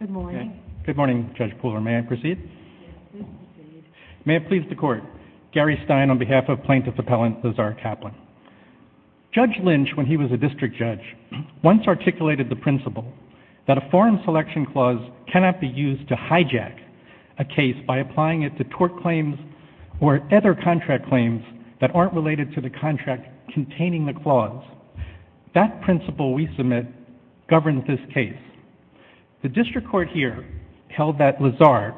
Good morning. Good morning, Judge Pooler. May I proceed? Yes, please proceed. May it please the Court, Gary Stein on behalf of Plaintiff Appellant Lazare Kaplan. Judge Lynch, when he was a district judge, once articulated the principle that a foreign selection clause cannot be used to hijack a case by applying it to tort claims or other contract claims that aren't related to the contract containing the clause. That principle we submit governs this case. The district court here held that Lazare,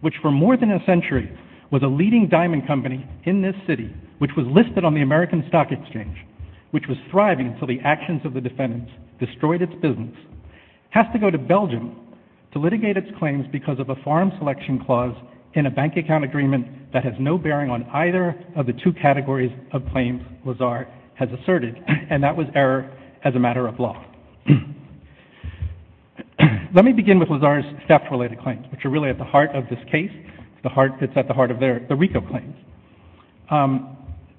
which for more than a century was a leading diamond company in this city, which was listed on the American Stock Exchange, which was thriving until the actions of the defendants destroyed its business, has to go to Belgium to litigate its claims because of a foreign selection clause in a bank account agreement that has no bearing on either of the two categories of claims Lazare has asserted, and that was error as a matter of law. Let me begin with Lazare's theft-related claims, which are really at the heart of this case, the heart that's at the heart of their, the RICO claims.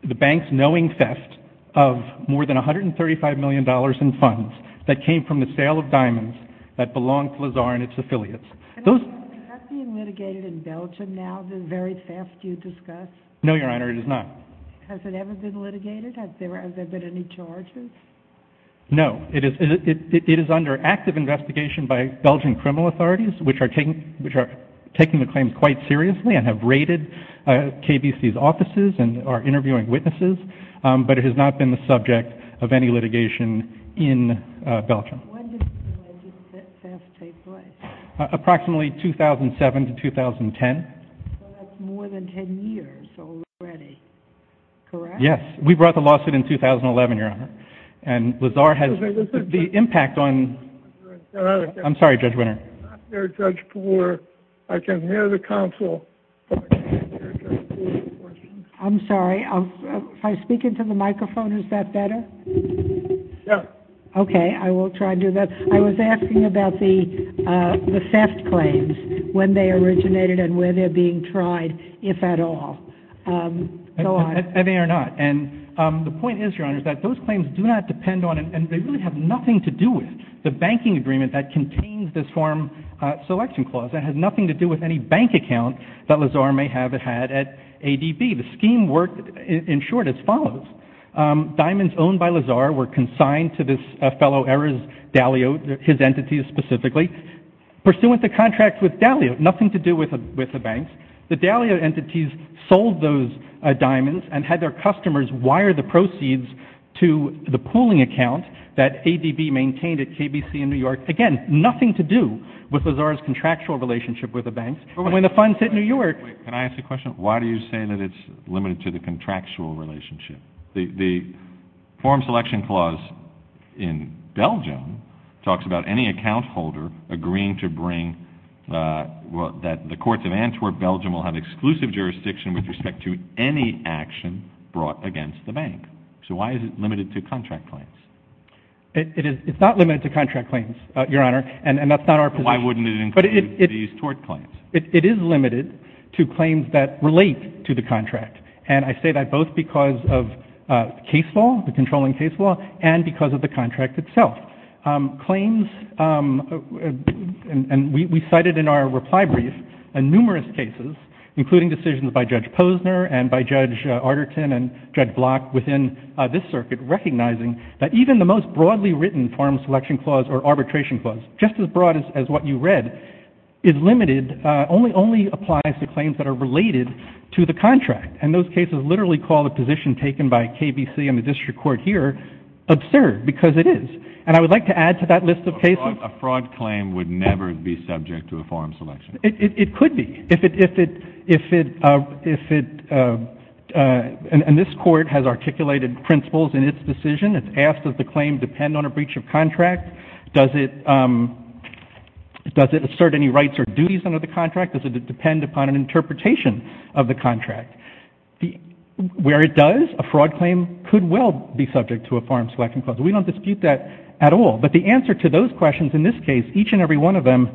The bank's knowing theft of more than $135 million in funds that came from the sale of diamonds that belonged to Lazare and its affiliates. Those... Is that being litigated in Belgium now, the very theft you discussed? No, Your Honor, it is not. Has it ever been litigated? Has there been any charges? No. It is under active investigation by Belgian criminal authorities, which are taking the claims quite seriously and have raided KBC's offices and are interviewing witnesses, but it has not been the subject of any litigation in Belgium. When did the alleged theft take place? Approximately 2007 to 2010. So that's more than 10 years already, correct? Yes. We brought the lawsuit in 2011, Your Honor. And Lazare has... Listen, listen... The impact on... I'm sorry, Judge Winner. You're not here, Judge Poore. I can hear the counsel. You're not here, Judge Poore. I'm sorry. If I speak into the microphone, is that better? Yes. Okay. I will try to do that. I was asking about the theft claims, when they originated and where they're being tried, if at all. Go on. Any or not. And the point is, Your Honor, is that those claims do not depend on, and they really have nothing to do with the banking agreement that contains this form selection clause. It has nothing to do with any bank account that Lazare may have had at ADB. The scheme worked, in short, as follows. Diamonds owned by Lazare were consigned to this fellow, Erez Dalio, his entities specifically, pursuant to contract with Dalio. Nothing to do with the banks. The Dalio entities sold those diamonds and had their customers wire the proceeds to the pooling account that ADB maintained at KBC in New York. Again, nothing to do with Lazare's contractual relationship with the banks. And when the funds hit New York... Wait. Can I ask a question? Why do you say that it's limited to the contractual relationship? The form selection clause in Belgium talks about any account holder agreeing to bring that the courts of Antwerp, Belgium will have exclusive jurisdiction with respect to any action brought against the bank. So why is it limited to contract claims? It's not limited to contract claims, Your Honor, and that's not our position. Why wouldn't it include these tort claims? It is limited to claims that relate to the contract, and I say that both because of case law, the controlling case law, and because of the contract itself. Claims... And we cited in our reply brief numerous cases, including decisions by Judge Posner and by Judge Arterton and Judge Block within this circuit, recognizing that even the most broadly written form selection clause or arbitration clause, just as broad as what you read, is limited, only applies to claims that are related to the contract. And those cases literally call the position taken by KBC and the district court here absurd because it is. And I would like to add to that list of cases... A fraud claim would never be subject to a form selection clause. It could be. If it... And this court has articulated principles in its decision. It's asked that the claim depend on a breach of contract. Does it assert any rights or duties under the contract? Does it depend upon an interpretation of the contract? Where it does, a fraud claim could well be subject to a form selection clause. We don't dispute that at all. But the answer to those questions in this case, each and every one of them,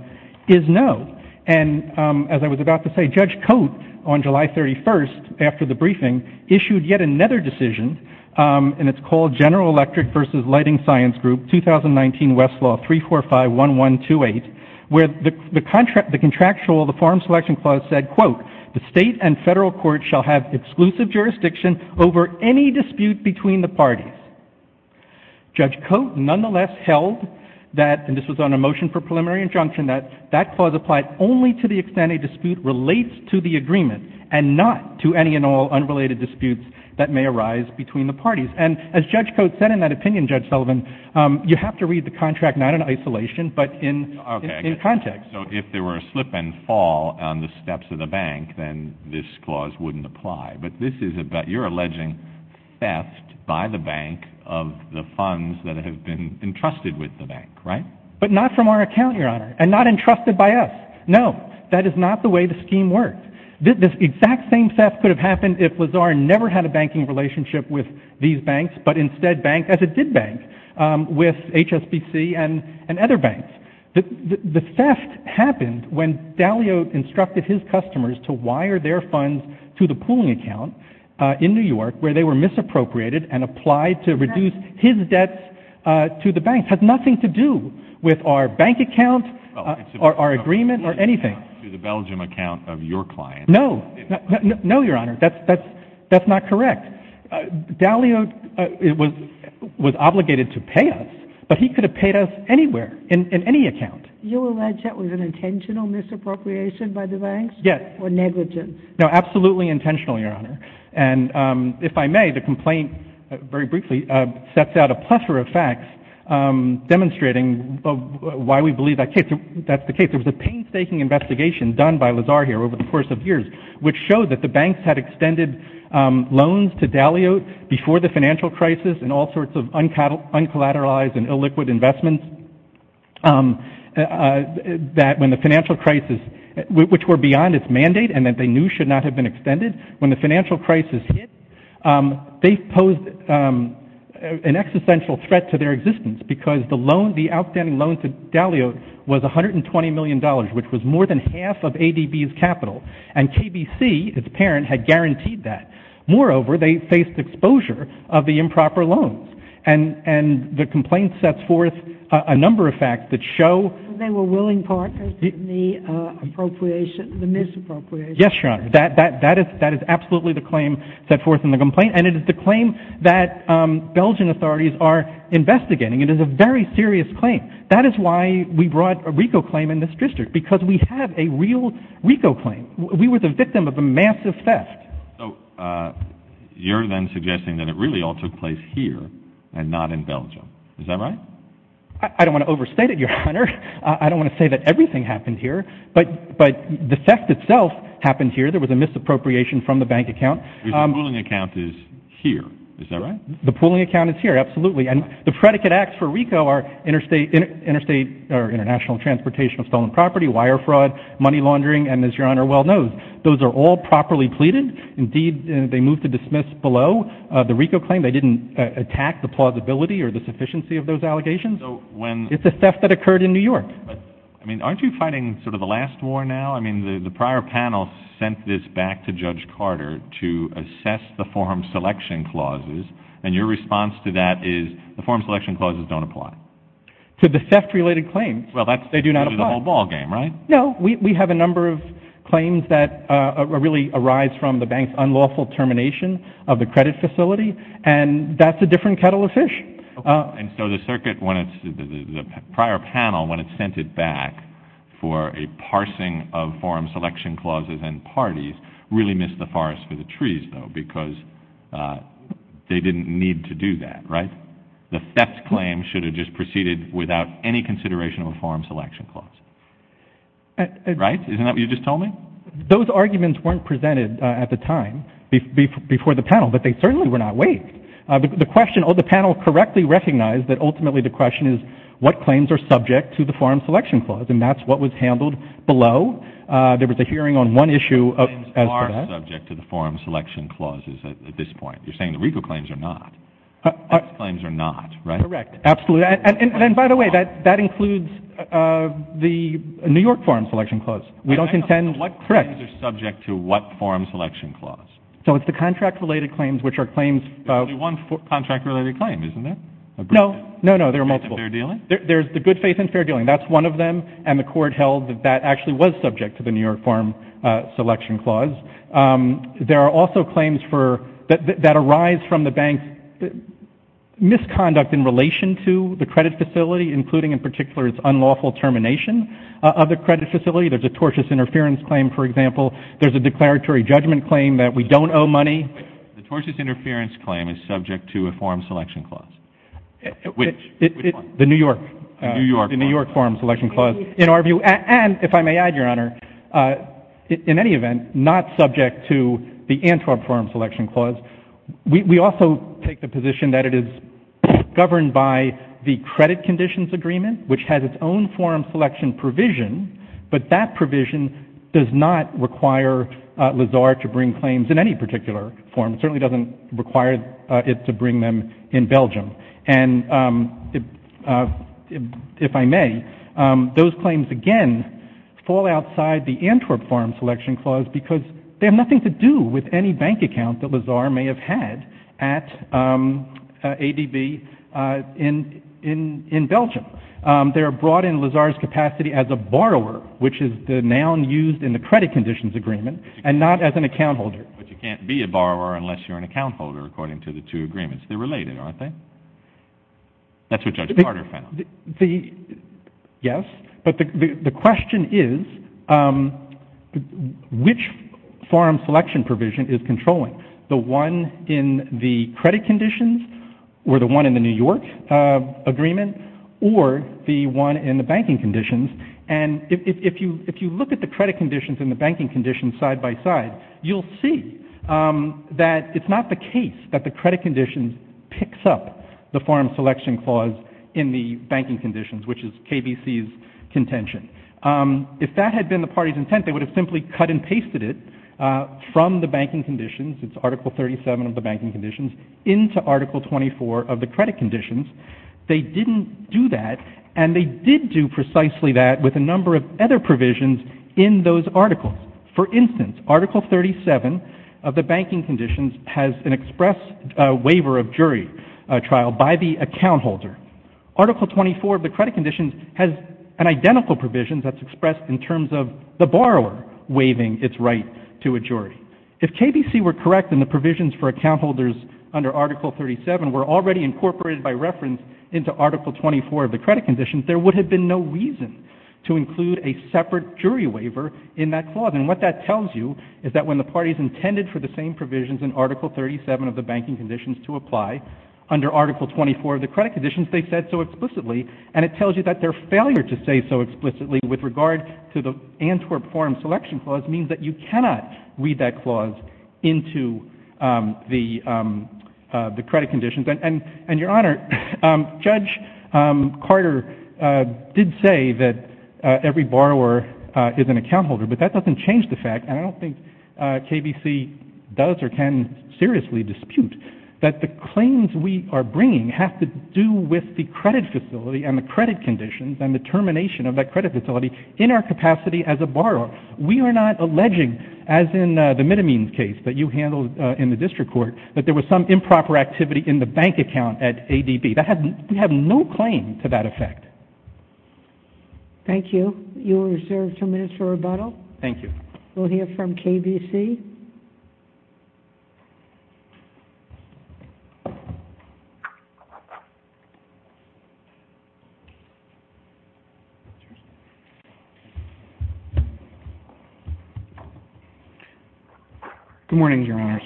is no. And as I was about to say, Judge Coate on July 31st, after the briefing, issued yet another decision, and it's called General Electric versus Lighting Science Group, 2019 Westlaw 3451128, where the contractual, the form selection clause said, quote, the state and federal court shall have exclusive jurisdiction over any dispute between the parties. Judge Coate nonetheless held that, and this was on a motion for preliminary injunction, that that clause applied only to the extent a dispute relates to the agreement and not to any and all unrelated disputes that may arise between the parties. And as Judge Coate said in that opinion, Judge Sullivan, you have to read the contract not in isolation, but in context. Okay, so if there were a slip and fall on the steps of the bank, then this clause wouldn't apply. But this is about your alleging theft by the bank of the funds that have been entrusted with the bank, right? But not from our account, Your Honor, and not entrusted by us. No, that is not the way the scheme worked. This exact same theft could have happened if Lazar never had a banking relationship with these banks, but instead bank as it did bank with HSBC and other banks. The theft happened when Daliot instructed his customers to wire their funds to the pooling account in New York where they were misappropriated and applied to reduce his debts to the bank. It has nothing to do with our bank account, our agreement, or anything. To the Belgium account of your client. No, Your Honor, that's not correct. Daliot was obligated to pay us, but he could have paid us anywhere, in any account. You allege that was an intentional misappropriation by the banks? Yes. Or negligence? No, absolutely intentional, Your Honor. And if I may, the complaint, very briefly, sets out a plethora of facts demonstrating why we believe that's the case. There was a painstaking investigation done by Lazar here over the course of years which showed that the banks had extended loans to Daliot before the financial crisis and all sorts of uncollateralized and illiquid investments that when the financial crisis, which were beyond its mandate and that they knew should not have been extended, when the financial crisis hit, they posed an existential threat to their existence because the outstanding loan to Daliot was $120 million, which was more than half of ADB's capital. And KBC, its parent, had guaranteed that. Moreover, they faced exposure of the improper loans. And the complaint sets forth a number of facts that show... They were willing partners in the appropriation, the misappropriation. Yes, Your Honor. That is absolutely the claim set forth in the complaint. And it is the claim that Belgian authorities are investigating. It is a very serious claim. That is why we brought a RICO claim in this district, because we have a real RICO claim. We were the victim of a massive theft. So you're then suggesting that it really all took place here and not in Belgium. Is that right? I don't want to overstate it, Your Honor. I don't want to say that everything happened here. But the theft itself happened here. There was a misappropriation from the bank account. The pooling account is here. Is that right? The pooling account is here. Absolutely. And the predicate acts for RICO are interstate or international transportation of stolen property, wire fraud, money laundering, and, as Your Honor well knows, those are all properly pleaded. Indeed, they moved to dismiss below the RICO claim. They didn't attack the plausibility or the sufficiency of those allegations. It's a theft that occurred in New York. Aren't you fighting sort of a last war now? Well, I mean, the prior panel sent this back to Judge Carter to assess the form selection clauses, and your response to that is the form selection clauses don't apply. To the theft-related claims, they do not apply. Well, that's the whole ballgame, right? No. We have a number of claims that really arise from the bank's unlawful termination of the credit facility, and that's a different kettle of fish. And so the prior panel, when it sent it back for a parsing of form selection clauses and parties, really missed the forest for the trees, though, because they didn't need to do that, right? The theft claim should have just proceeded without any consideration of a form selection clause. Right? Isn't that what you just told me? Those arguments weren't presented at the time before the panel, but they certainly were not waived. The panel correctly recognized that ultimately the question is what claims are subject to the form selection clause, and that's what was handled below. There was a hearing on one issue as to that. What claims are subject to the form selection clauses at this point? You're saying the RICO claims are not. Those claims are not, right? Correct. Absolutely. And then, by the way, that includes the New York form selection clause. We don't contend. Correct. What claims are subject to what form selection clause? So it's the contract-related claims, which are claims. There's only one contract-related claim, isn't there? No, no, no. There are multiple. Good faith and fair dealing? There's the good faith and fair dealing. That's one of them, and the court held that that actually was subject to the New York form selection clause. There are also claims that arise from the bank's misconduct in relation to the credit facility, including in particular its unlawful termination of the credit facility. There's a tortious interference claim, for example. There's a declaratory judgment claim that we don't owe money. The tortious interference claim is subject to a form selection clause. Which one? The New York form selection clause. In our view, and if I may add, Your Honor, in any event, not subject to the Antwerp form selection clause. We also take the position that it is governed by the credit conditions agreement, which has its own form selection provision, but that provision does not require Lazar to bring claims in any particular form. It certainly doesn't require it to bring them in Belgium. And if I may, those claims, again, fall outside the Antwerp form selection clause because they have nothing to do with any bank account that Lazar may have had at ADB in Belgium. They are brought in Lazar's capacity as a borrower, which is the noun used in the credit conditions agreement, and not as an account holder. But you can't be a borrower unless you're an account holder, according to the two agreements. They're related, aren't they? That's what Judge Carter found. Yes. But the question is, which form selection provision is controlling, the one in the credit conditions or the one in the New York agreement or the one in the banking conditions? And if you look at the credit conditions and the banking conditions side by side, you'll see that it's not the case that the credit conditions picks up the form selection clause in the banking conditions, which is KBC's contention. If that had been the party's intent, they would have simply cut and pasted it from the banking conditions, it's Article 37 of the banking conditions, into Article 24 of the credit conditions. They didn't do that, and they did do precisely that with a number of other provisions in those articles. For instance, Article 37 of the banking conditions has an express waiver of jury trial by the account holder. Article 24 of the credit conditions has an identical provision that's expressed in terms of the borrower waiving its right to a jury. If KBC were correct and the provisions for account holders under Article 37 were already incorporated by reference into Article 24 of the credit conditions, there would have been no reason to include a separate jury waiver in that clause. And what that tells you is that when the parties intended for the same provisions in Article 37 of the banking conditions to apply under Article 24 of the credit conditions, they said so explicitly, and it tells you that their failure to say so explicitly with regard to the Antwerp form selection clause means that you cannot read that clause into the credit conditions. And, Your Honor, Judge Carter did say that every borrower is an account holder, but that doesn't change the fact, and I don't think KBC does or can seriously dispute, that the claims we are bringing have to do with the credit facility and the credit conditions and the termination of that credit facility in our capacity as a borrower. We are not alleging, as in the middle means case that you handled in the district court, that there was some improper activity in the bank account at ADB. We have no claim to that effect. Thank you. You are reserved two minutes for rebuttal. Thank you. We'll hear from KBC. Good morning, Your Honors.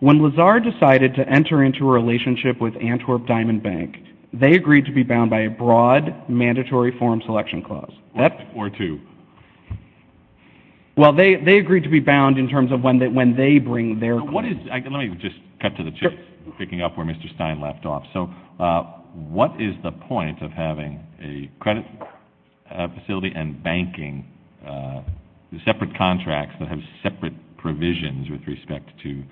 When Lazar decided to enter into a relationship with Antwerp Diamond Bank, they agreed to be bound by a broad mandatory form selection clause. Or two. Well, they agreed to be bound in terms of when they bring their claim. Let me just cut to the chase, picking up where Mr. Stein left off. So what is the point of having a credit facility and banking, separate contracts that have separate provisions with respect to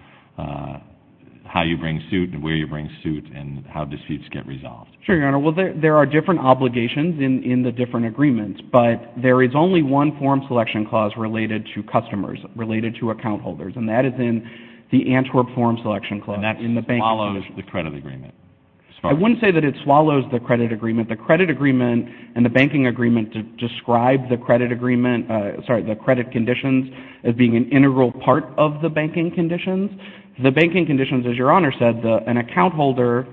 how you bring suit and where you bring suit and how disputes get resolved? Sure, Your Honor. Well, there are different obligations in the different agreements, but there is only one form selection clause related to customers, related to account holders, and that is in the Antwerp form selection clause. And that swallows the credit agreement. I wouldn't say that it swallows the credit agreement. The credit agreement and the banking agreement describe the credit conditions as being an integral part of the banking conditions. The banking conditions, as Your Honor said, an account holder,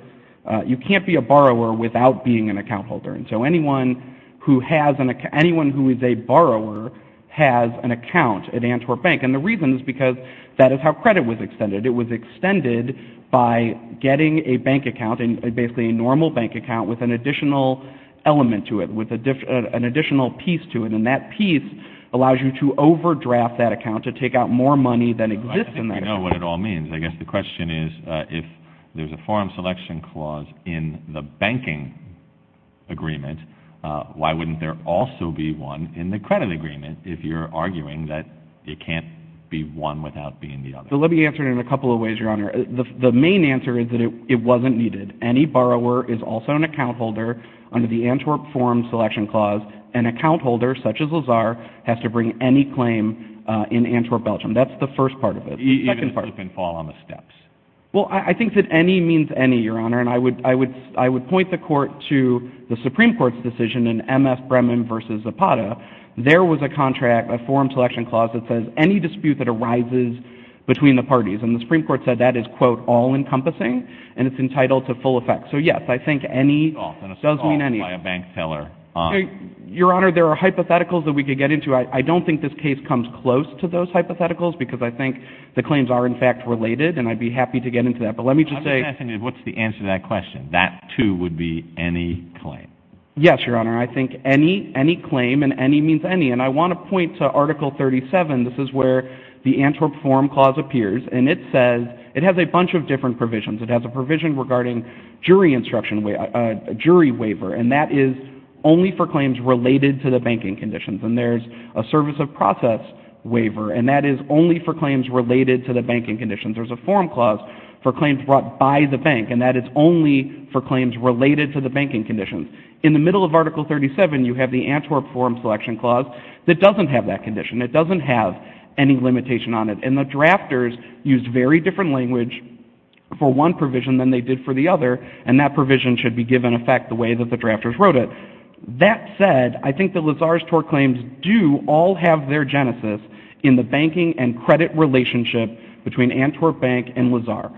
you can't be a borrower without being an account holder. And so anyone who is a borrower has an account at Antwerp Bank. And the reason is because that is how credit was extended. It was extended by getting a bank account, basically a normal bank account, with an additional element to it, with an additional piece to it. And that piece allows you to overdraft that account, to take out more money than exists in that account. I think we know what it all means. I guess the question is, if there's a form selection clause in the banking agreement, why wouldn't there also be one in the credit agreement if you're arguing that it can't be one without being the other? Let me answer it in a couple of ways, Your Honor. The main answer is that it wasn't needed. Any borrower is also an account holder under the Antwerp form selection clause. An account holder, such as Lazar, has to bring any claim in Antwerp, Belgium. That's the first part of it. Even slip and fall on the steps. Well, I think that any means any, Your Honor. And I would point the Court to the Supreme Court's decision in M.F. Brehman v. Zapata. There was a contract, a form selection clause, that says any dispute that arises between the parties. And the Supreme Court said that is, quote, all-encompassing, and it's entitled to full effect. So, yes, I think any does mean any. Your Honor, there are hypotheticals that we could get into. I don't think this case comes close to those hypotheticals because I think the claims are, in fact, related, and I'd be happy to get into that. But let me just say— I'm just asking you, what's the answer to that question? That, too, would be any claim. Yes, Your Honor. I think any, any claim, and any means any. And I want to point to Article 37. This is where the Antwerp Forum Clause appears, and it says—it has a bunch of different provisions. It has a provision regarding jury instruction, a jury waiver, and that is only for claims related to the banking conditions. And there's a service of process waiver, and that is only for claims related to the banking conditions. There's a form clause for claims brought by the bank, and that is only for claims related to the banking conditions. In the middle of Article 37, you have the Antwerp Forum Selection Clause, that doesn't have that condition. It doesn't have any limitation on it. And the drafters used very different language for one provision than they did for the other, and that provision should be given effect the way that the drafters wrote it. That said, I think that Lazar's tort claims do all have their genesis in the banking and credit relationship between Antwerp Bank and Lazar.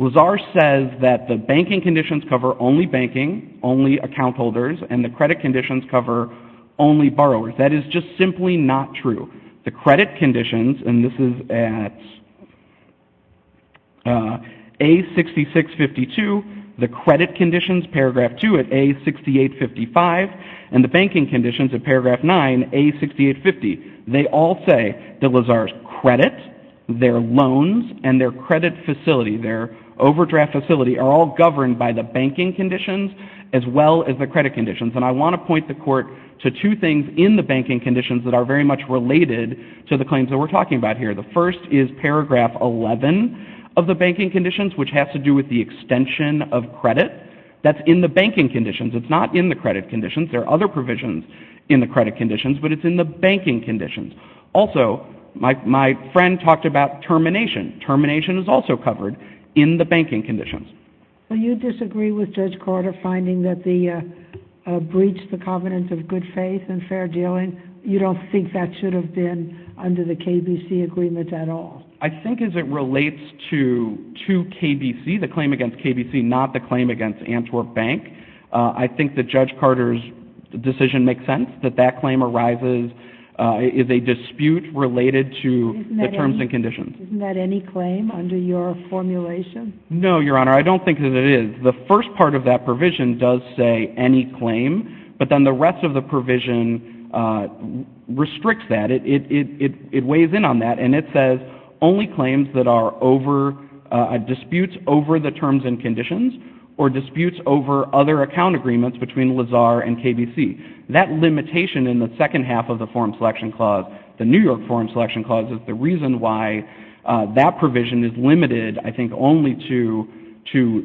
Lazar says that the banking conditions cover only banking, only account holders, and the credit conditions cover only borrowers. That is just simply not true. The credit conditions, and this is at A6652, the credit conditions, Paragraph 2 at A6855, and the banking conditions at Paragraph 9, A6850, they all say that Lazar's credit, their loans, and their credit facility, their overdraft facility, are all governed by the banking conditions as well as the credit conditions. And I want to point the Court to two things in the banking conditions that are very much related to the claims that we're talking about here. The first is Paragraph 11 of the banking conditions, which has to do with the extension of credit. That's in the banking conditions. It's not in the credit conditions. There are other provisions in the credit conditions, but it's in the banking conditions. Also, my friend talked about termination. Termination is also covered in the banking conditions. So you disagree with Judge Carter finding that the breach, the covenant of good faith and fair dealing, you don't think that should have been under the KBC agreement at all? I think as it relates to KBC, the claim against KBC, not the claim against Antwerp Bank, I think that Judge Carter's decision makes sense, that that claim arises, is a dispute related to the terms and conditions. Isn't that any claim under your formulation? No, Your Honor, I don't think that it is. The first part of that provision does say any claim, but then the rest of the provision restricts that. It weighs in on that, and it says only claims that are over, disputes over the terms and conditions, or disputes over other account agreements between Lazar and KBC. That limitation in the second half of the Forum Selection Clause, the New York Forum Selection Clause, is the reason why that provision is limited, I think, only to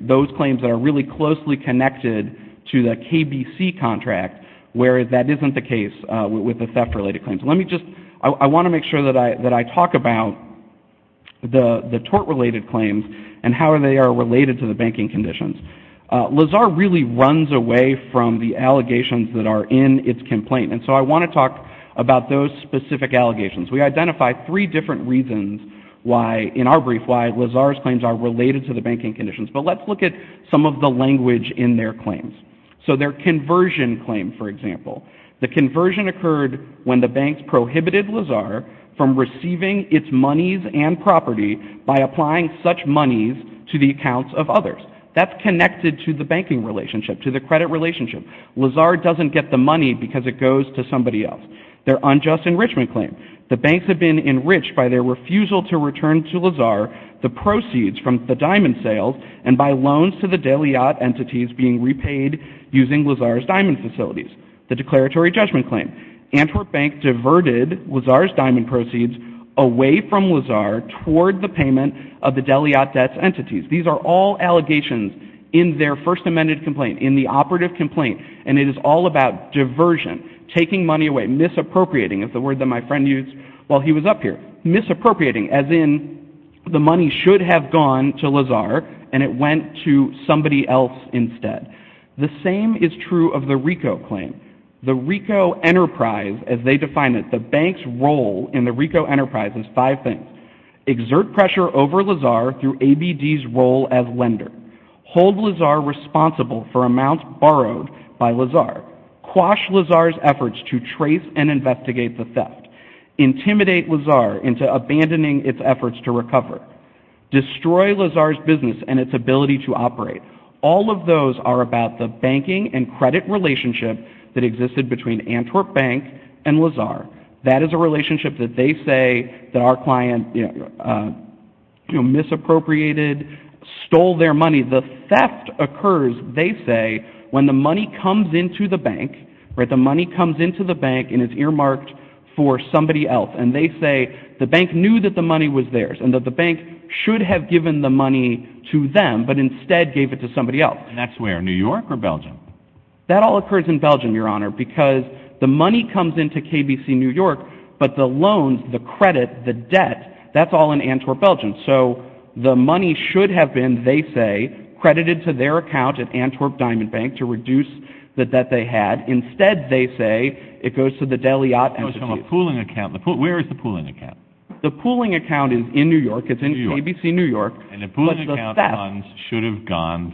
those claims that are really closely connected to the KBC contract, where that isn't the case with the theft-related claims. I want to make sure that I talk about the tort-related claims and how they are related to the banking conditions. Lazar really runs away from the allegations that are in its complaint, and so I want to talk about those specific allegations. We identify three different reasons in our brief why Lazar's claims are related to the banking conditions, but let's look at some of the language in their claims. So their conversion claim, for example. The conversion occurred when the banks prohibited Lazar from receiving its monies and property by applying such monies to the accounts of others. That's connected to the banking relationship, to the credit relationship. Lazar doesn't get the money because it goes to somebody else. Their unjust enrichment claim. The banks have been enriched by their refusal to return to Lazar the proceeds from the diamond sales and by loans to the Deliat entities being repaid using Lazar's diamond facilities. The declaratory judgment claim. Antwerp Bank diverted Lazar's diamond proceeds away from Lazar toward the payment of the Deliat debts entities. These are all allegations in their first amended complaint, in the operative complaint, and it is all about diversion, taking money away, misappropriating is the word that my friend used while he was up here, misappropriating, as in the money should have gone to Lazar and it went to somebody else instead. The same is true of the RICO claim. The RICO enterprise, as they define it, the bank's role in the RICO enterprise is five things. Exert pressure over Lazar through ABD's role as lender. Hold Lazar responsible for amounts borrowed by Lazar. Quash Lazar's efforts to trace and investigate the theft. Intimidate Lazar into abandoning its efforts to recover. Destroy Lazar's business and its ability to operate. All of those are about the banking and credit relationship that existed between Antwerp Bank and Lazar. That is a relationship that they say that our client misappropriated, stole their money. The theft occurs, they say, when the money comes into the bank and is earmarked for somebody else. They say the bank knew that the money was theirs and that the bank should have given the money to them but instead gave it to somebody else. That's where? New York or Belgium? That all occurs in Belgium, Your Honor, because the money comes into KBC New York, but the loans, the credit, the debt, that's all in Antwerp, Belgium. So the money should have been, they say, credited to their account at Antwerp Diamond Bank to reduce the debt they had. Instead, they say, it goes to the Deliat Entity. It goes to a pooling account. Where is the pooling account? The pooling account is in New York. It's in KBC New York. And the pooling account should have gone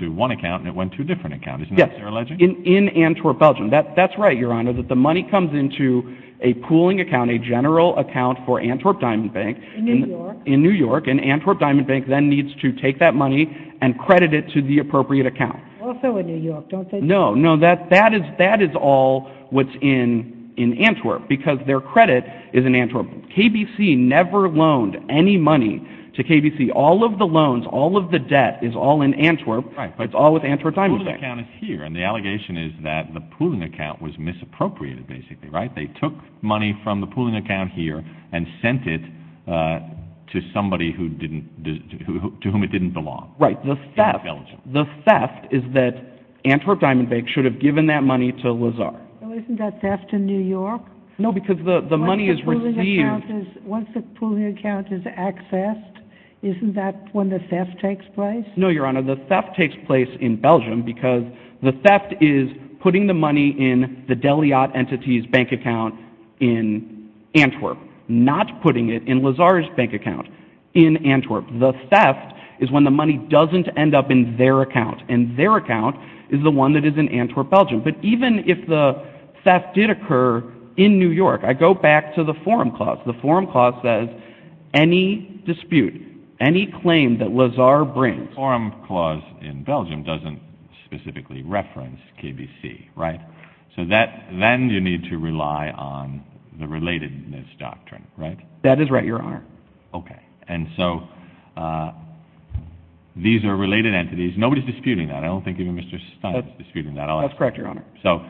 to one account and it went to a different account, isn't that what they're alleging? Yes, in Antwerp, Belgium. That's right, Your Honor, that the money comes into a pooling account, a general account for Antwerp Diamond Bank in New York, and Antwerp Diamond Bank then needs to take that money and credit it to the appropriate account. Also in New York, don't they? No, no, that is all what's in Antwerp, because their credit is in Antwerp. KBC never loaned any money to KBC. All of the loans, all of the debt is all in Antwerp. It's all with Antwerp Diamond Bank. The pooling account is here, and the allegation is that the pooling account was misappropriated, basically, right? They took money from the pooling account here and sent it to somebody to whom it didn't belong. Right. The theft is that Antwerp Diamond Bank should have given that money to Lazar. Isn't that theft in New York? No, because the money is received... Once the pooling account is accessed, isn't that when the theft takes place? No, Your Honor, the theft takes place in Belgium because the theft is putting the money in the Deliat Entities bank account in Antwerp, not putting it in Lazar's bank account in Antwerp. The theft is when the money doesn't end up in their account, and their account is the one that is in Antwerp, Belgium. But even if the theft did occur in New York, I go back to the Forum Clause. The Forum Clause says any dispute, any claim that Lazar brings... The Forum Clause in Belgium doesn't specifically reference KBC, right? So then you need to rely on the relatedness doctrine, right? That is right, Your Honor. Okay. And so these are related entities. Nobody is disputing that. I don't think even Mr. Stein is disputing that. That's correct, Your Honor. So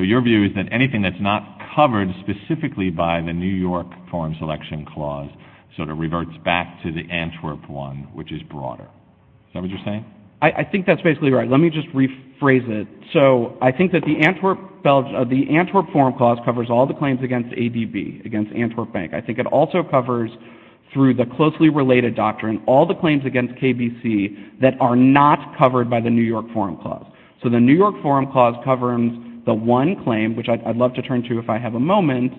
your view is that anything that's not covered specifically by the New York Forum Selection Clause sort of reverts back to the Antwerp one, which is broader. Is that what you're saying? I think that's basically right. Let me just rephrase it. So I think that the Antwerp Forum Clause covers all the claims against ADB, against Antwerp Bank. I think it also covers, through the closely related doctrine, all the claims against KBC that are not covered by the New York Forum Clause. So the New York Forum Clause covers the one claim, which I'd love to turn to if I have a moment.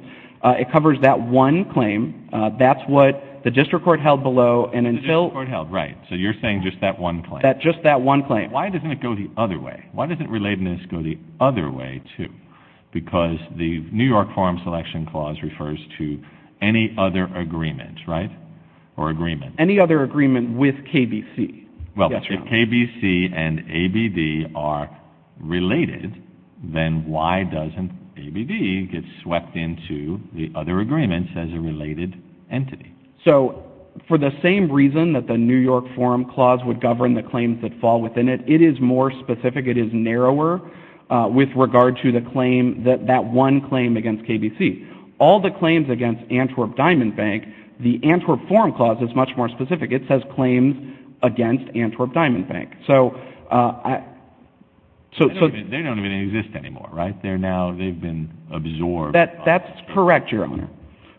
It covers that one claim. That's what the district court held below. The district court held, right. So you're saying just that one claim. Just that one claim. Why doesn't it go the other way? Why doesn't relatedness go the other way too? Because the New York Forum Selection Clause refers to any other agreement, right, or agreement. Any other agreement with KBC. Well, if KBC and ABD are related, then why doesn't ABD get swept into the other agreements as a related entity? So for the same reason that the New York Forum Clause would govern the claims that fall within it, it is more specific. It is narrower with regard to the claim, that one claim against KBC. All the claims against Antwerp Diamond Bank, the Antwerp Forum Clause is much more specific. It says claims against Antwerp Diamond Bank. They don't even exist anymore, right? They've been absorbed. That's correct, Your Honor.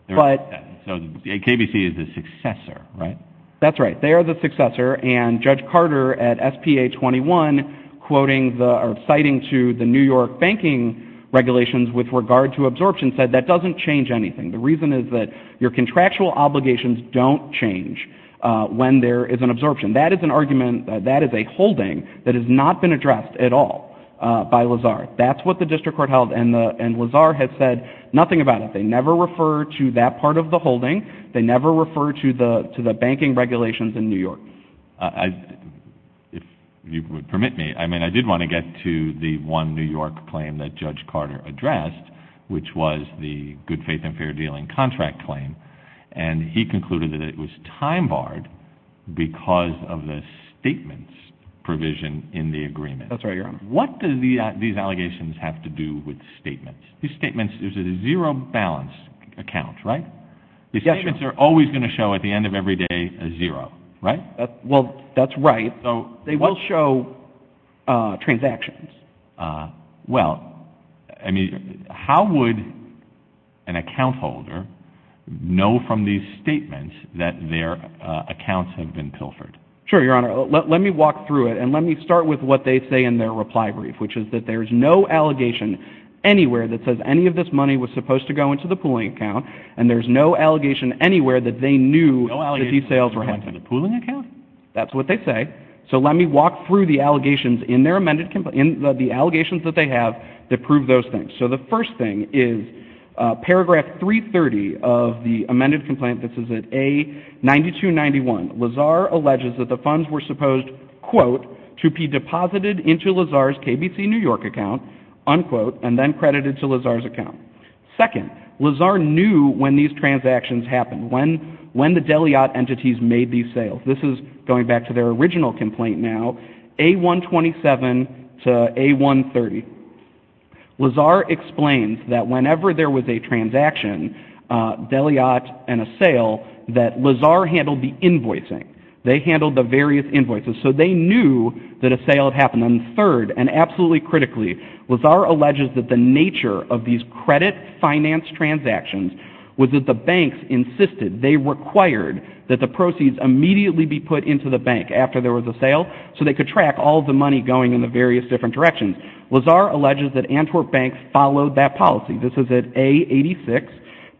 KBC is the successor, right? That's right. They are the successor, and Judge Carter at SPA 21 citing to the New York banking regulations with regard to absorption said that doesn't change anything. The reason is that your contractual obligations don't change when there is an absorption. That is an argument, that is a holding that has not been addressed at all by Lazar. That's what the district court held, They never refer to that part of the holding. They never refer to the banking regulations in New York. If you would permit me, I did want to get to the one New York claim that Judge Carter addressed, which was the good faith and fair dealing contract claim, and he concluded that it was time barred because of the statements provision in the agreement. That's right, Your Honor. What do these allegations have to do with statements? These statements, there's a zero balance account, right? These statements are always going to show, at the end of every day, a zero, right? Well, that's right. They will show transactions. Well, I mean, how would an account holder know from these statements that their accounts have been pilfered? Sure, Your Honor. Let me walk through it, and let me start with what they say in their reply brief, which is that there's no allegation anywhere that says any of this money was supposed to go into the pooling account, and there's no allegation anywhere that they knew that these sales were happening. No allegation that it went to the pooling account? That's what they say. So let me walk through the allegations in their amended complaint, the allegations that they have that prove those things. So the first thing is, paragraph 330 of the amended complaint, this is at A-9291, Lazar alleges that the funds were supposed, to be deposited into Lazar's KBC New York account, unquote, and then credited to Lazar's account. Second, Lazar knew when these transactions happened, when the Deliat entities made these sales. This is going back to their original complaint now, A-127 to A-130. Lazar explains that whenever there was a transaction, Deliat and a sale, that Lazar handled the invoicing. They handled the various invoices, so they knew that a sale had happened. And third, and absolutely critically, Lazar alleges that the nature of these credit finance transactions was that the banks insisted, they required that the proceeds immediately be put into the bank after there was a sale, so they could track all of the money going in the various different directions. Lazar alleges that Antwerp Bank followed that policy. This is at A-86,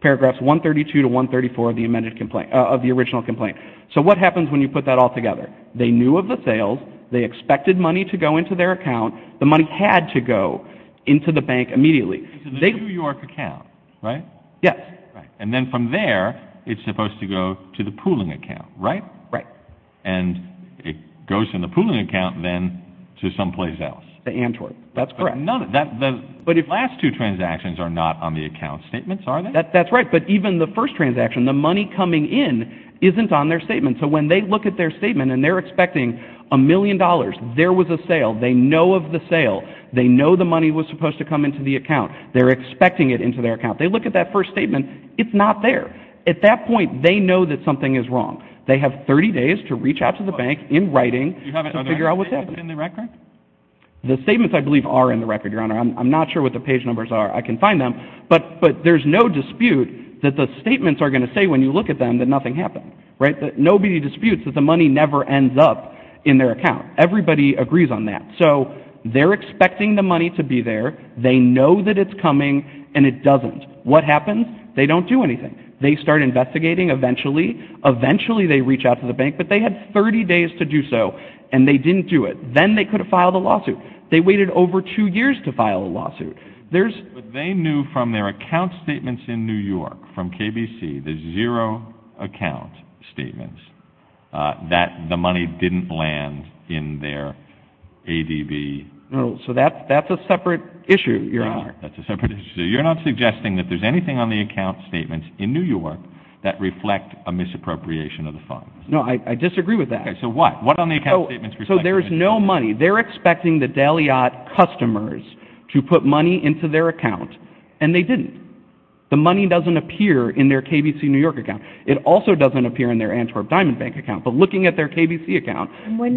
paragraphs 132 to 134 of the original complaint. So what happens when you put that all together? They knew of the sales, they expected money to go into their account, the money had to go into the bank immediately. It's in the New York account, right? Yes. And then from there, it's supposed to go to the pooling account, right? Right. And it goes to the pooling account, then to someplace else. To Antwerp, that's correct. But the last two transactions are not on the account statements, are they? That's right, but even the first transaction, the money coming in isn't on their statement. So when they look at their statement and they're expecting a million dollars, there was a sale, they know of the sale, they know the money was supposed to come into the account, they're expecting it into their account. They look at that first statement, it's not there. At that point, they know that something is wrong. They have 30 days to reach out to the bank in writing to figure out what's happened. Are the statements in the record? The statements, I believe, are in the record, Your Honor. I'm not sure what the page numbers are. I can find them. But there's no dispute that the statements are going to say, when you look at them, that nothing happened, right? Nobody disputes that the money never ends up in their account. Everybody agrees on that. So they're expecting the money to be there, they know that it's coming, and it doesn't. What happens? They don't do anything. They start investigating, eventually. Eventually, they reach out to the bank, but they had 30 days to do so, and they didn't do it. Then they could have filed a lawsuit. They waited over two years to file a lawsuit. They knew from their account statements in New York, from KBC, the zero account statements, that the money didn't land in their ADB. So that's a separate issue, Your Honor. That's a separate issue. So you're not suggesting that there's anything on the account statements in New York that reflect a misappropriation of the funds? No, I disagree with that. Okay, so what? What on the account statements reflect misappropriation? So there's no money. They're expecting the Daliat customers to put money into their account, and they didn't. The money doesn't appear in their KBC New York account. It also doesn't appear in their Antwerp Diamond Bank account. But looking at their KBC account,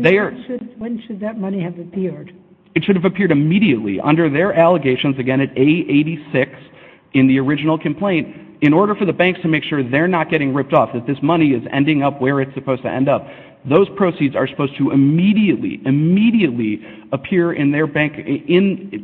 they are... And when should that money have appeared? It should have appeared immediately, under their allegations, again, at A86, in the original complaint, in order for the banks to make sure they're not getting ripped off, that this money is ending up where it's supposed to end up. Those proceeds are supposed to immediately, immediately appear in their bank,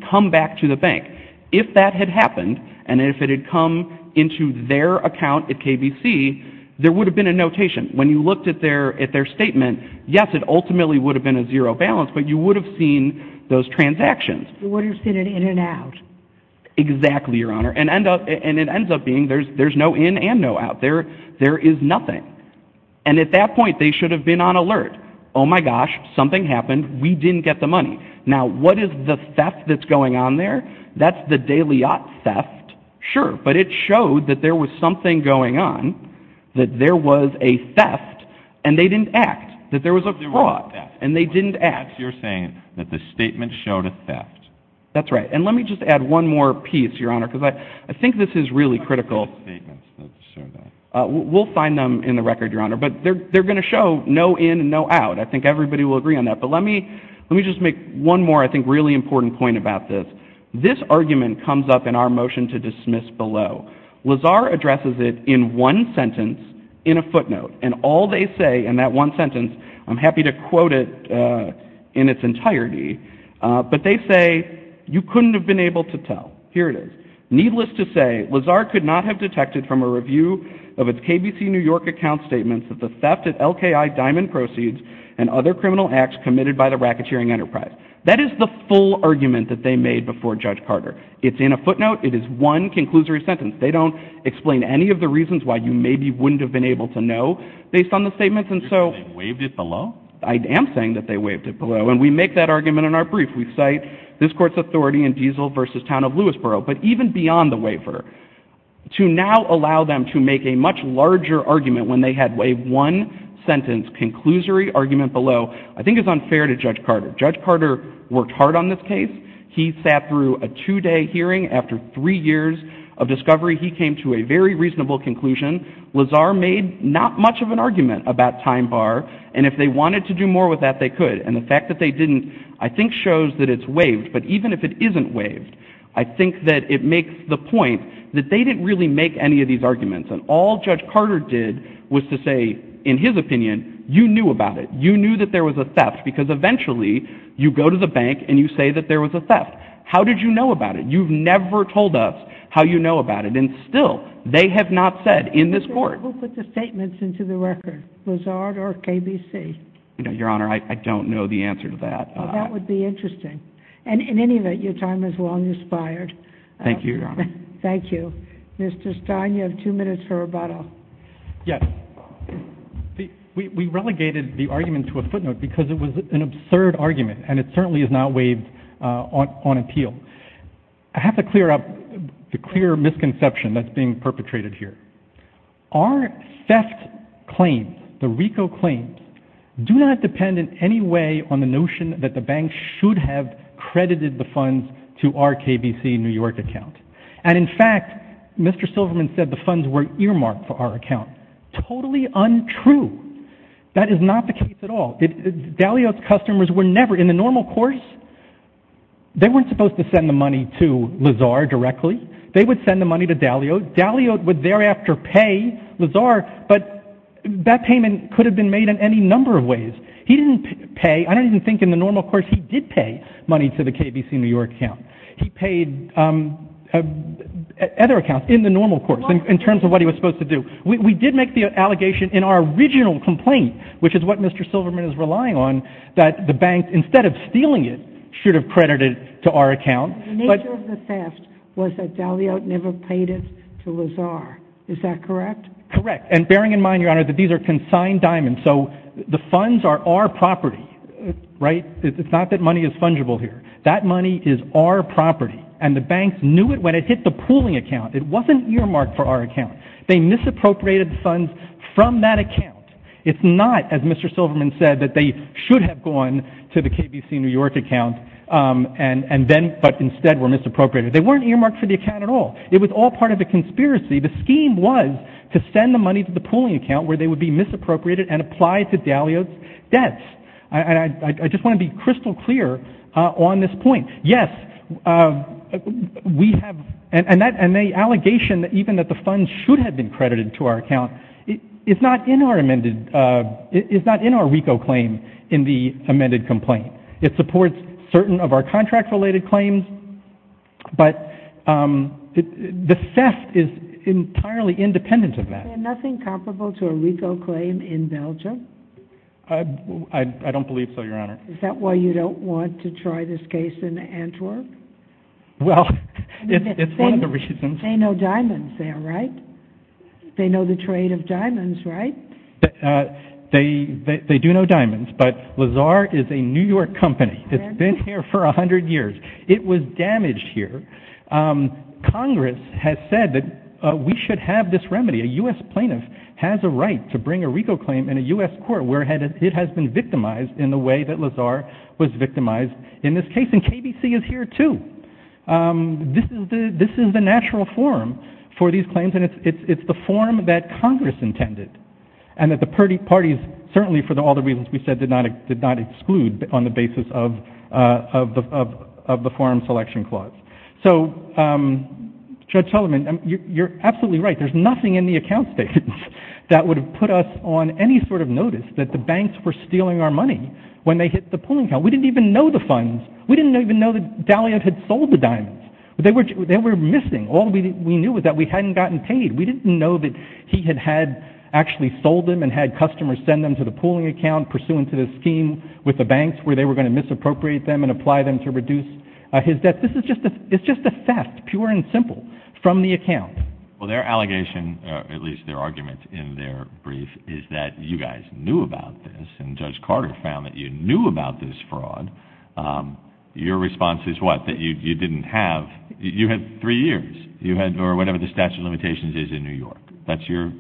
come back to the bank. If that had happened, and if it had come into their account at KBC, there would have been a notation. When you looked at their statement, yes, it ultimately would have been a zero balance, but you would have seen those transactions. You would have seen an in and out. Exactly, Your Honor. And it ends up being there's no in and no out. There is nothing. And at that point, they should have been on alert. Oh, my gosh, something happened. We didn't get the money. Now, what is the theft that's going on there? That's the Daliat theft, sure. But it showed that there was something going on, that there was a theft, and they didn't act, that there was a fraud, and they didn't act. You're saying that the statement showed a theft. That's right. And let me just add one more piece, Your Honor, because I think this is really critical. We'll find them in the record, Your Honor. But they're going to show no in and no out. I think everybody will agree on that. But let me just make one more, I think, really important point about this. This argument comes up in our motion to dismiss below. Lazar addresses it in one sentence in a footnote. And all they say in that one sentence, I'm happy to quote it in its entirety, but they say, you couldn't have been able to tell. Here it is. Needless to say, Lazar could not have detected from a review of its KBC New York account statements that the theft at LKI Diamond Proceeds and other criminal acts committed by the racketeering enterprise. That is the full argument that they made before Judge Carter. It's in a footnote. It is one conclusory sentence. They don't explain any of the reasons why you maybe wouldn't have been able to know based on the statements. You're saying they waived it below? I am saying that they waived it below. And we make that argument in our brief. We cite this court's authority in Diesel versus Town of Lewisboro. But even beyond the waiver, to now allow them to make a much larger argument when they had waived one sentence, conclusory argument below, I think is unfair to Judge Carter. Judge Carter worked hard on this case. He sat through a two-day hearing. After three years of discovery, he came to a very reasonable conclusion. Lazar made not much of an argument about time bar. And if they wanted to do more with that, they could. And the fact that they didn't, I think, shows that it's waived. But even if it isn't waived, I think that it makes the point that they didn't really make any of these arguments. And all Judge Carter did was to say, in his opinion, you knew about it. You knew that there was a theft. Because eventually, you go to the bank and you say that there was a theft. How did you know about it? You've never told us how you know about it. And still, they have not said in this court. Who put the statements into the record? Lazar or KBC? Your Honor, I don't know the answer to that. Well, that would be interesting. And in any event, your time is well inspired. Thank you, Your Honor. Thank you. Mr. Stein, you have two minutes for rebuttal. Yes. We relegated the argument to a footnote because it was an absurd argument. And it certainly is not waived on appeal. I have to clear up the clear misconception that's being perpetrated here. Our theft claims, the RICO claims, do not depend in any way on the notion that the bank should have credited the funds to our KBC New York account. And in fact, Mr. Silverman said the funds were earmarked for our account. Totally untrue. That is not the case at all. Daliot's customers were never, in the normal course, they weren't supposed to send the money to Lazar directly. They would send the money to Daliot. Daliot would thereafter pay Lazar. But that payment could have been made in any number of ways. He didn't pay, I don't even think in the normal course, he did pay money to the KBC New York account. He paid other accounts in the normal course, in terms of what he was supposed to do. We did make the allegation in our original complaint, which is what Mr. Silverman is relying on, that the bank, instead of stealing it, should have credited to our account. The nature of the theft was that Daliot never paid it to Lazar. Is that correct? Correct. And bearing in mind, Your Honor, that these are consigned diamonds, so the funds are our property, right? It's not that money is fungible here. That money is our property. And the banks knew it when it hit the pooling account. It wasn't earmarked for our account. They misappropriated funds from that account. It's not, as Mr. Silverman said, that they should have gone to the KBC New York account, but instead were misappropriated. They weren't earmarked for the account at all. It was all part of a conspiracy. The scheme was to send the money to the pooling account, where they would be misappropriated and applied to Daliot's debts. And I just want to be crystal clear on this point. Yes, we have, and the allegation, even that the funds should have been credited to our account, is not in our RICO claim in the amended complaint. It supports certain of our contract-related claims, but the theft is entirely independent of that. Is there nothing comparable to a RICO claim in Belgium? I don't believe so, Your Honor. Is that why you don't want to try this case in Antwerp? Well, it's one of the reasons. They know diamonds there, right? They know the trade of diamonds, right? They do know diamonds, but Lazar is a New York company. It's been here for 100 years. It was damaged here. Congress has said that we should have this remedy. A U.S. plaintiff has a right to bring a RICO claim in a U.S. court where it has been victimized in the way that Lazar was victimized in this case. And KBC is here, too. This is the natural forum for these claims, and it's the forum that Congress intended, and that the parties, certainly for all the reasons we said, did not exclude on the basis of the Forum Selection Clause. So, Judge Sullivan, you're absolutely right. There's nothing in the account statements that would have put us on any sort of notice that the banks were stealing our money when they hit the pooling account. We didn't even know the funds. We didn't even know that Daliot had sold the diamonds. They were missing. All we knew was that we hadn't gotten paid. We didn't know that he had actually sold them and had customers send them to the pooling account pursuant to the scheme with the banks where they were going to misappropriate them and apply them to reduce his debt. This is just a theft, pure and simple, from the account. Well, their allegation, at least their argument in their brief, is that you guys knew about this, and Judge Carter found that you knew about this fraud. Your response is what? That you didn't have? You had three years, or whatever the statute of limitations is in New York. That's your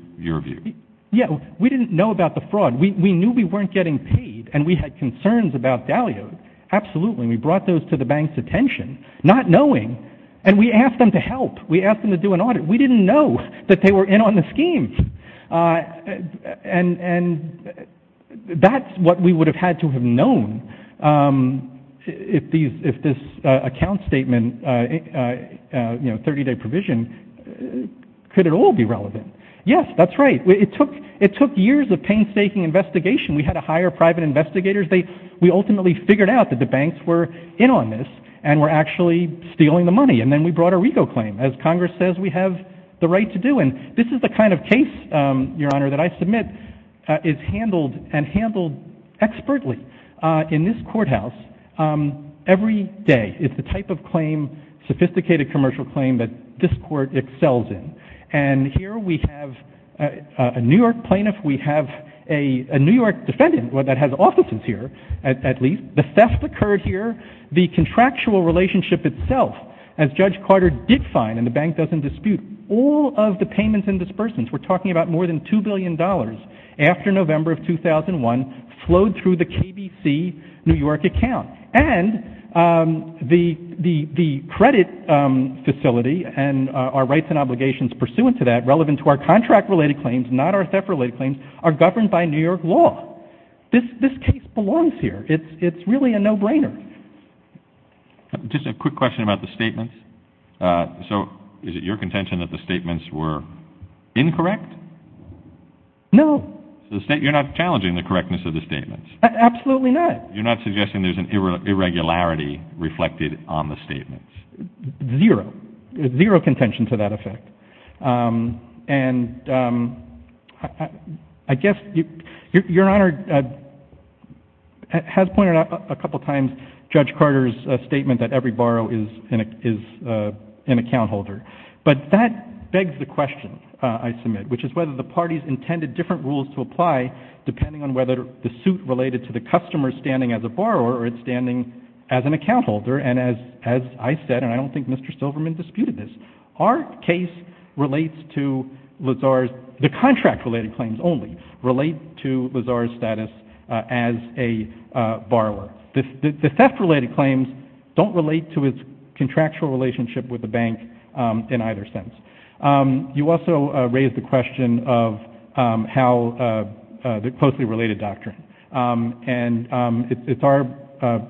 view. Yeah, we didn't know about the fraud. We knew we weren't getting paid, and we had concerns about Daliot. Absolutely, and we brought those to the banks' attention, not knowing, and we asked them to help. We asked them to do an audit. We didn't know that they were in on the scheme, and that's what we would have had to have known if this account statement, 30-day provision, could at all be relevant. Yes, that's right. It took years of painstaking investigation. We had to hire private investigators. We ultimately figured out that the banks were in on this and were actually stealing the money, and then we brought a RICO claim. As Congress says, we have the right to do, and this is the kind of case, Your Honor, that I submit is handled and handled expertly in this courthouse every day. It's the type of claim, sophisticated commercial claim, that this court excels in. And here we have a New York plaintiff. We have a New York defendant that has offices here, at least. The theft occurred here. The contractual relationship itself, as Judge Carter did find, and the bank doesn't dispute, all of the payments and disbursements, we're talking about more than $2 billion, after November of 2001 flowed through the KBC New York account. And the credit facility and our rights and obligations pursuant to that, relevant to our contract-related claims, not our theft-related claims, are governed by New York law. This case belongs here. It's really a no-brainer. Just a quick question about the statements. So is it your contention that the statements were incorrect? No. So you're not challenging the correctness of the statements? Absolutely not. You're not suggesting there's an irregularity reflected on the statements? Zero. Zero contention to that effect. And I guess Your Honor has pointed out a couple of times Judge Carter's statement that every borrower is an account holder. But that begs the question, I submit, which is whether the parties intended different rules to apply, depending on whether the suit related to the customer standing as a borrower or it standing as an account holder. And as I said, and I don't think Mr. Silverman disputed this, our case relates to Lazar's, the contract-related claims only, relate to Lazar's status as a borrower. The theft-related claims don't relate to his contractual relationship with the bank in either sense. You also raised the question of how the closely-related doctrine. And it's our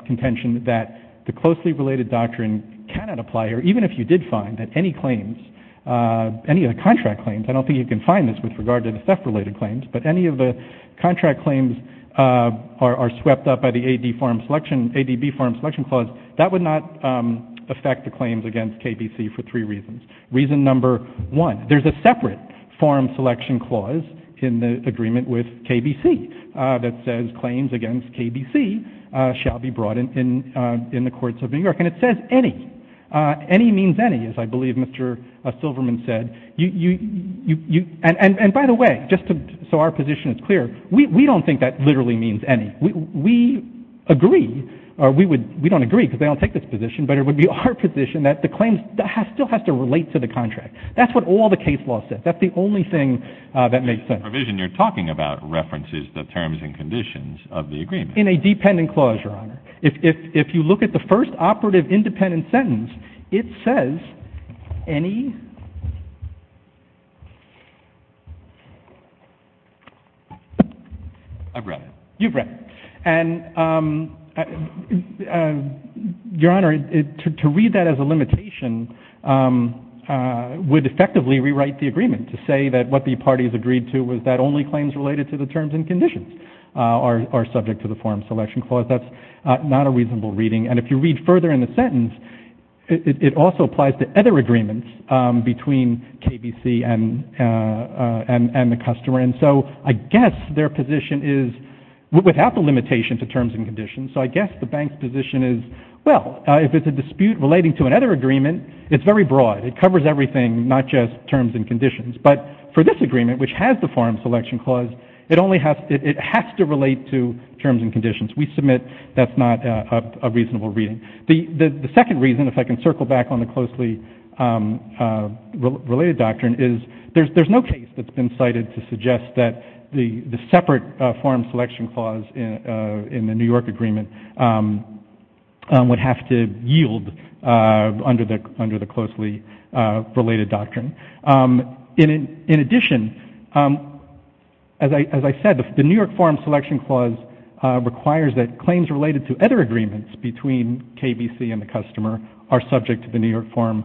contention that the closely-related doctrine cannot apply, or even if you did find that any claims, any of the contract claims, I don't think you can find this with regard to the theft-related claims, but any of the contract claims are swept up by the ADB form selection clause, that would not affect the claims against KBC for three reasons. Reason number one, there's a separate form selection clause in the agreement with KBC that says claims against KBC shall be brought in the courts of New York. And it says any. Any means any, as I believe Mr. Silverman said. And by the way, just so our position is clear, we don't think that literally means any. We agree, or we don't agree because they don't take this position, but it would be our position that the claims still have to relate to the contract. That's what all the case law says. That's the only thing that makes sense. The provision you're talking about references the terms and conditions of the agreement. In a dependent clause, Your Honor. If you look at the first operative independent sentence, it says any. I've read it. You've read it. And Your Honor, to read that as a limitation would effectively rewrite the agreement to say that what the parties agreed to was that only claims related to the terms and conditions are subject to the form selection clause. That's not a reasonable reading. And if you read further in the sentence, it also applies to other agreements between KBC and the customer. And so I guess their position is without the limitation to terms and conditions. So I guess the bank's position is, well, if it's a dispute relating to another agreement, it's very broad. It covers everything, not just terms and conditions. But for this agreement, which has the form selection clause, it has to relate to terms and conditions. We submit that's not a reasonable reading. The second reason, if I can circle back on the closely related doctrine, is there's no case that's been cited to suggest that the separate form selection clause in the New York agreement would have to yield under the closely related doctrine. In addition, as I said, the New York form selection clause requires that claims related to other agreements between KBC and the customer are subject to the New York form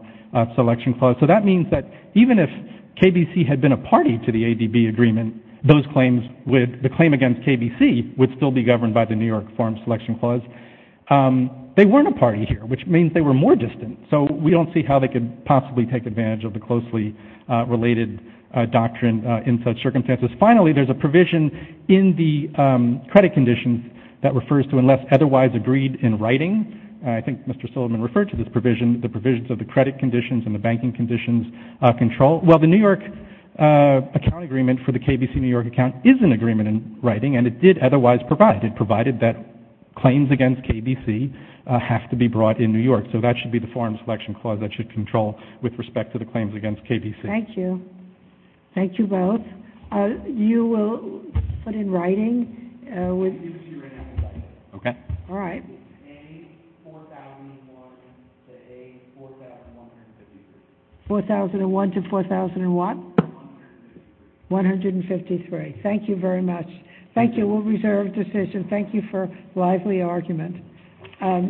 selection clause. So that means that even if KBC had been a party to the ADB agreement, the claim against KBC would still be governed by the New York form selection clause. They weren't a party here, which means they were more distant. So we don't see how they could possibly take advantage of the closely related doctrine in such circumstances. Finally, there's a provision in the credit conditions that refers to unless otherwise agreed in writing. I think Mr. Silliman referred to this provision, the provisions of the credit conditions and the banking conditions control. Well, the New York account agreement for the KBC New York account is an agreement in writing, and it did otherwise provide. It provided that claims against KBC have to be brought in New York. So that should be the form selection clause that should control with respect to the claims against KBC. Thank you. Thank you both. You will put in writing. Okay. All right. 4,001 to 4,001. 153. Thank you very much. Thank you. We'll reserve decision. Thank you for lively argument.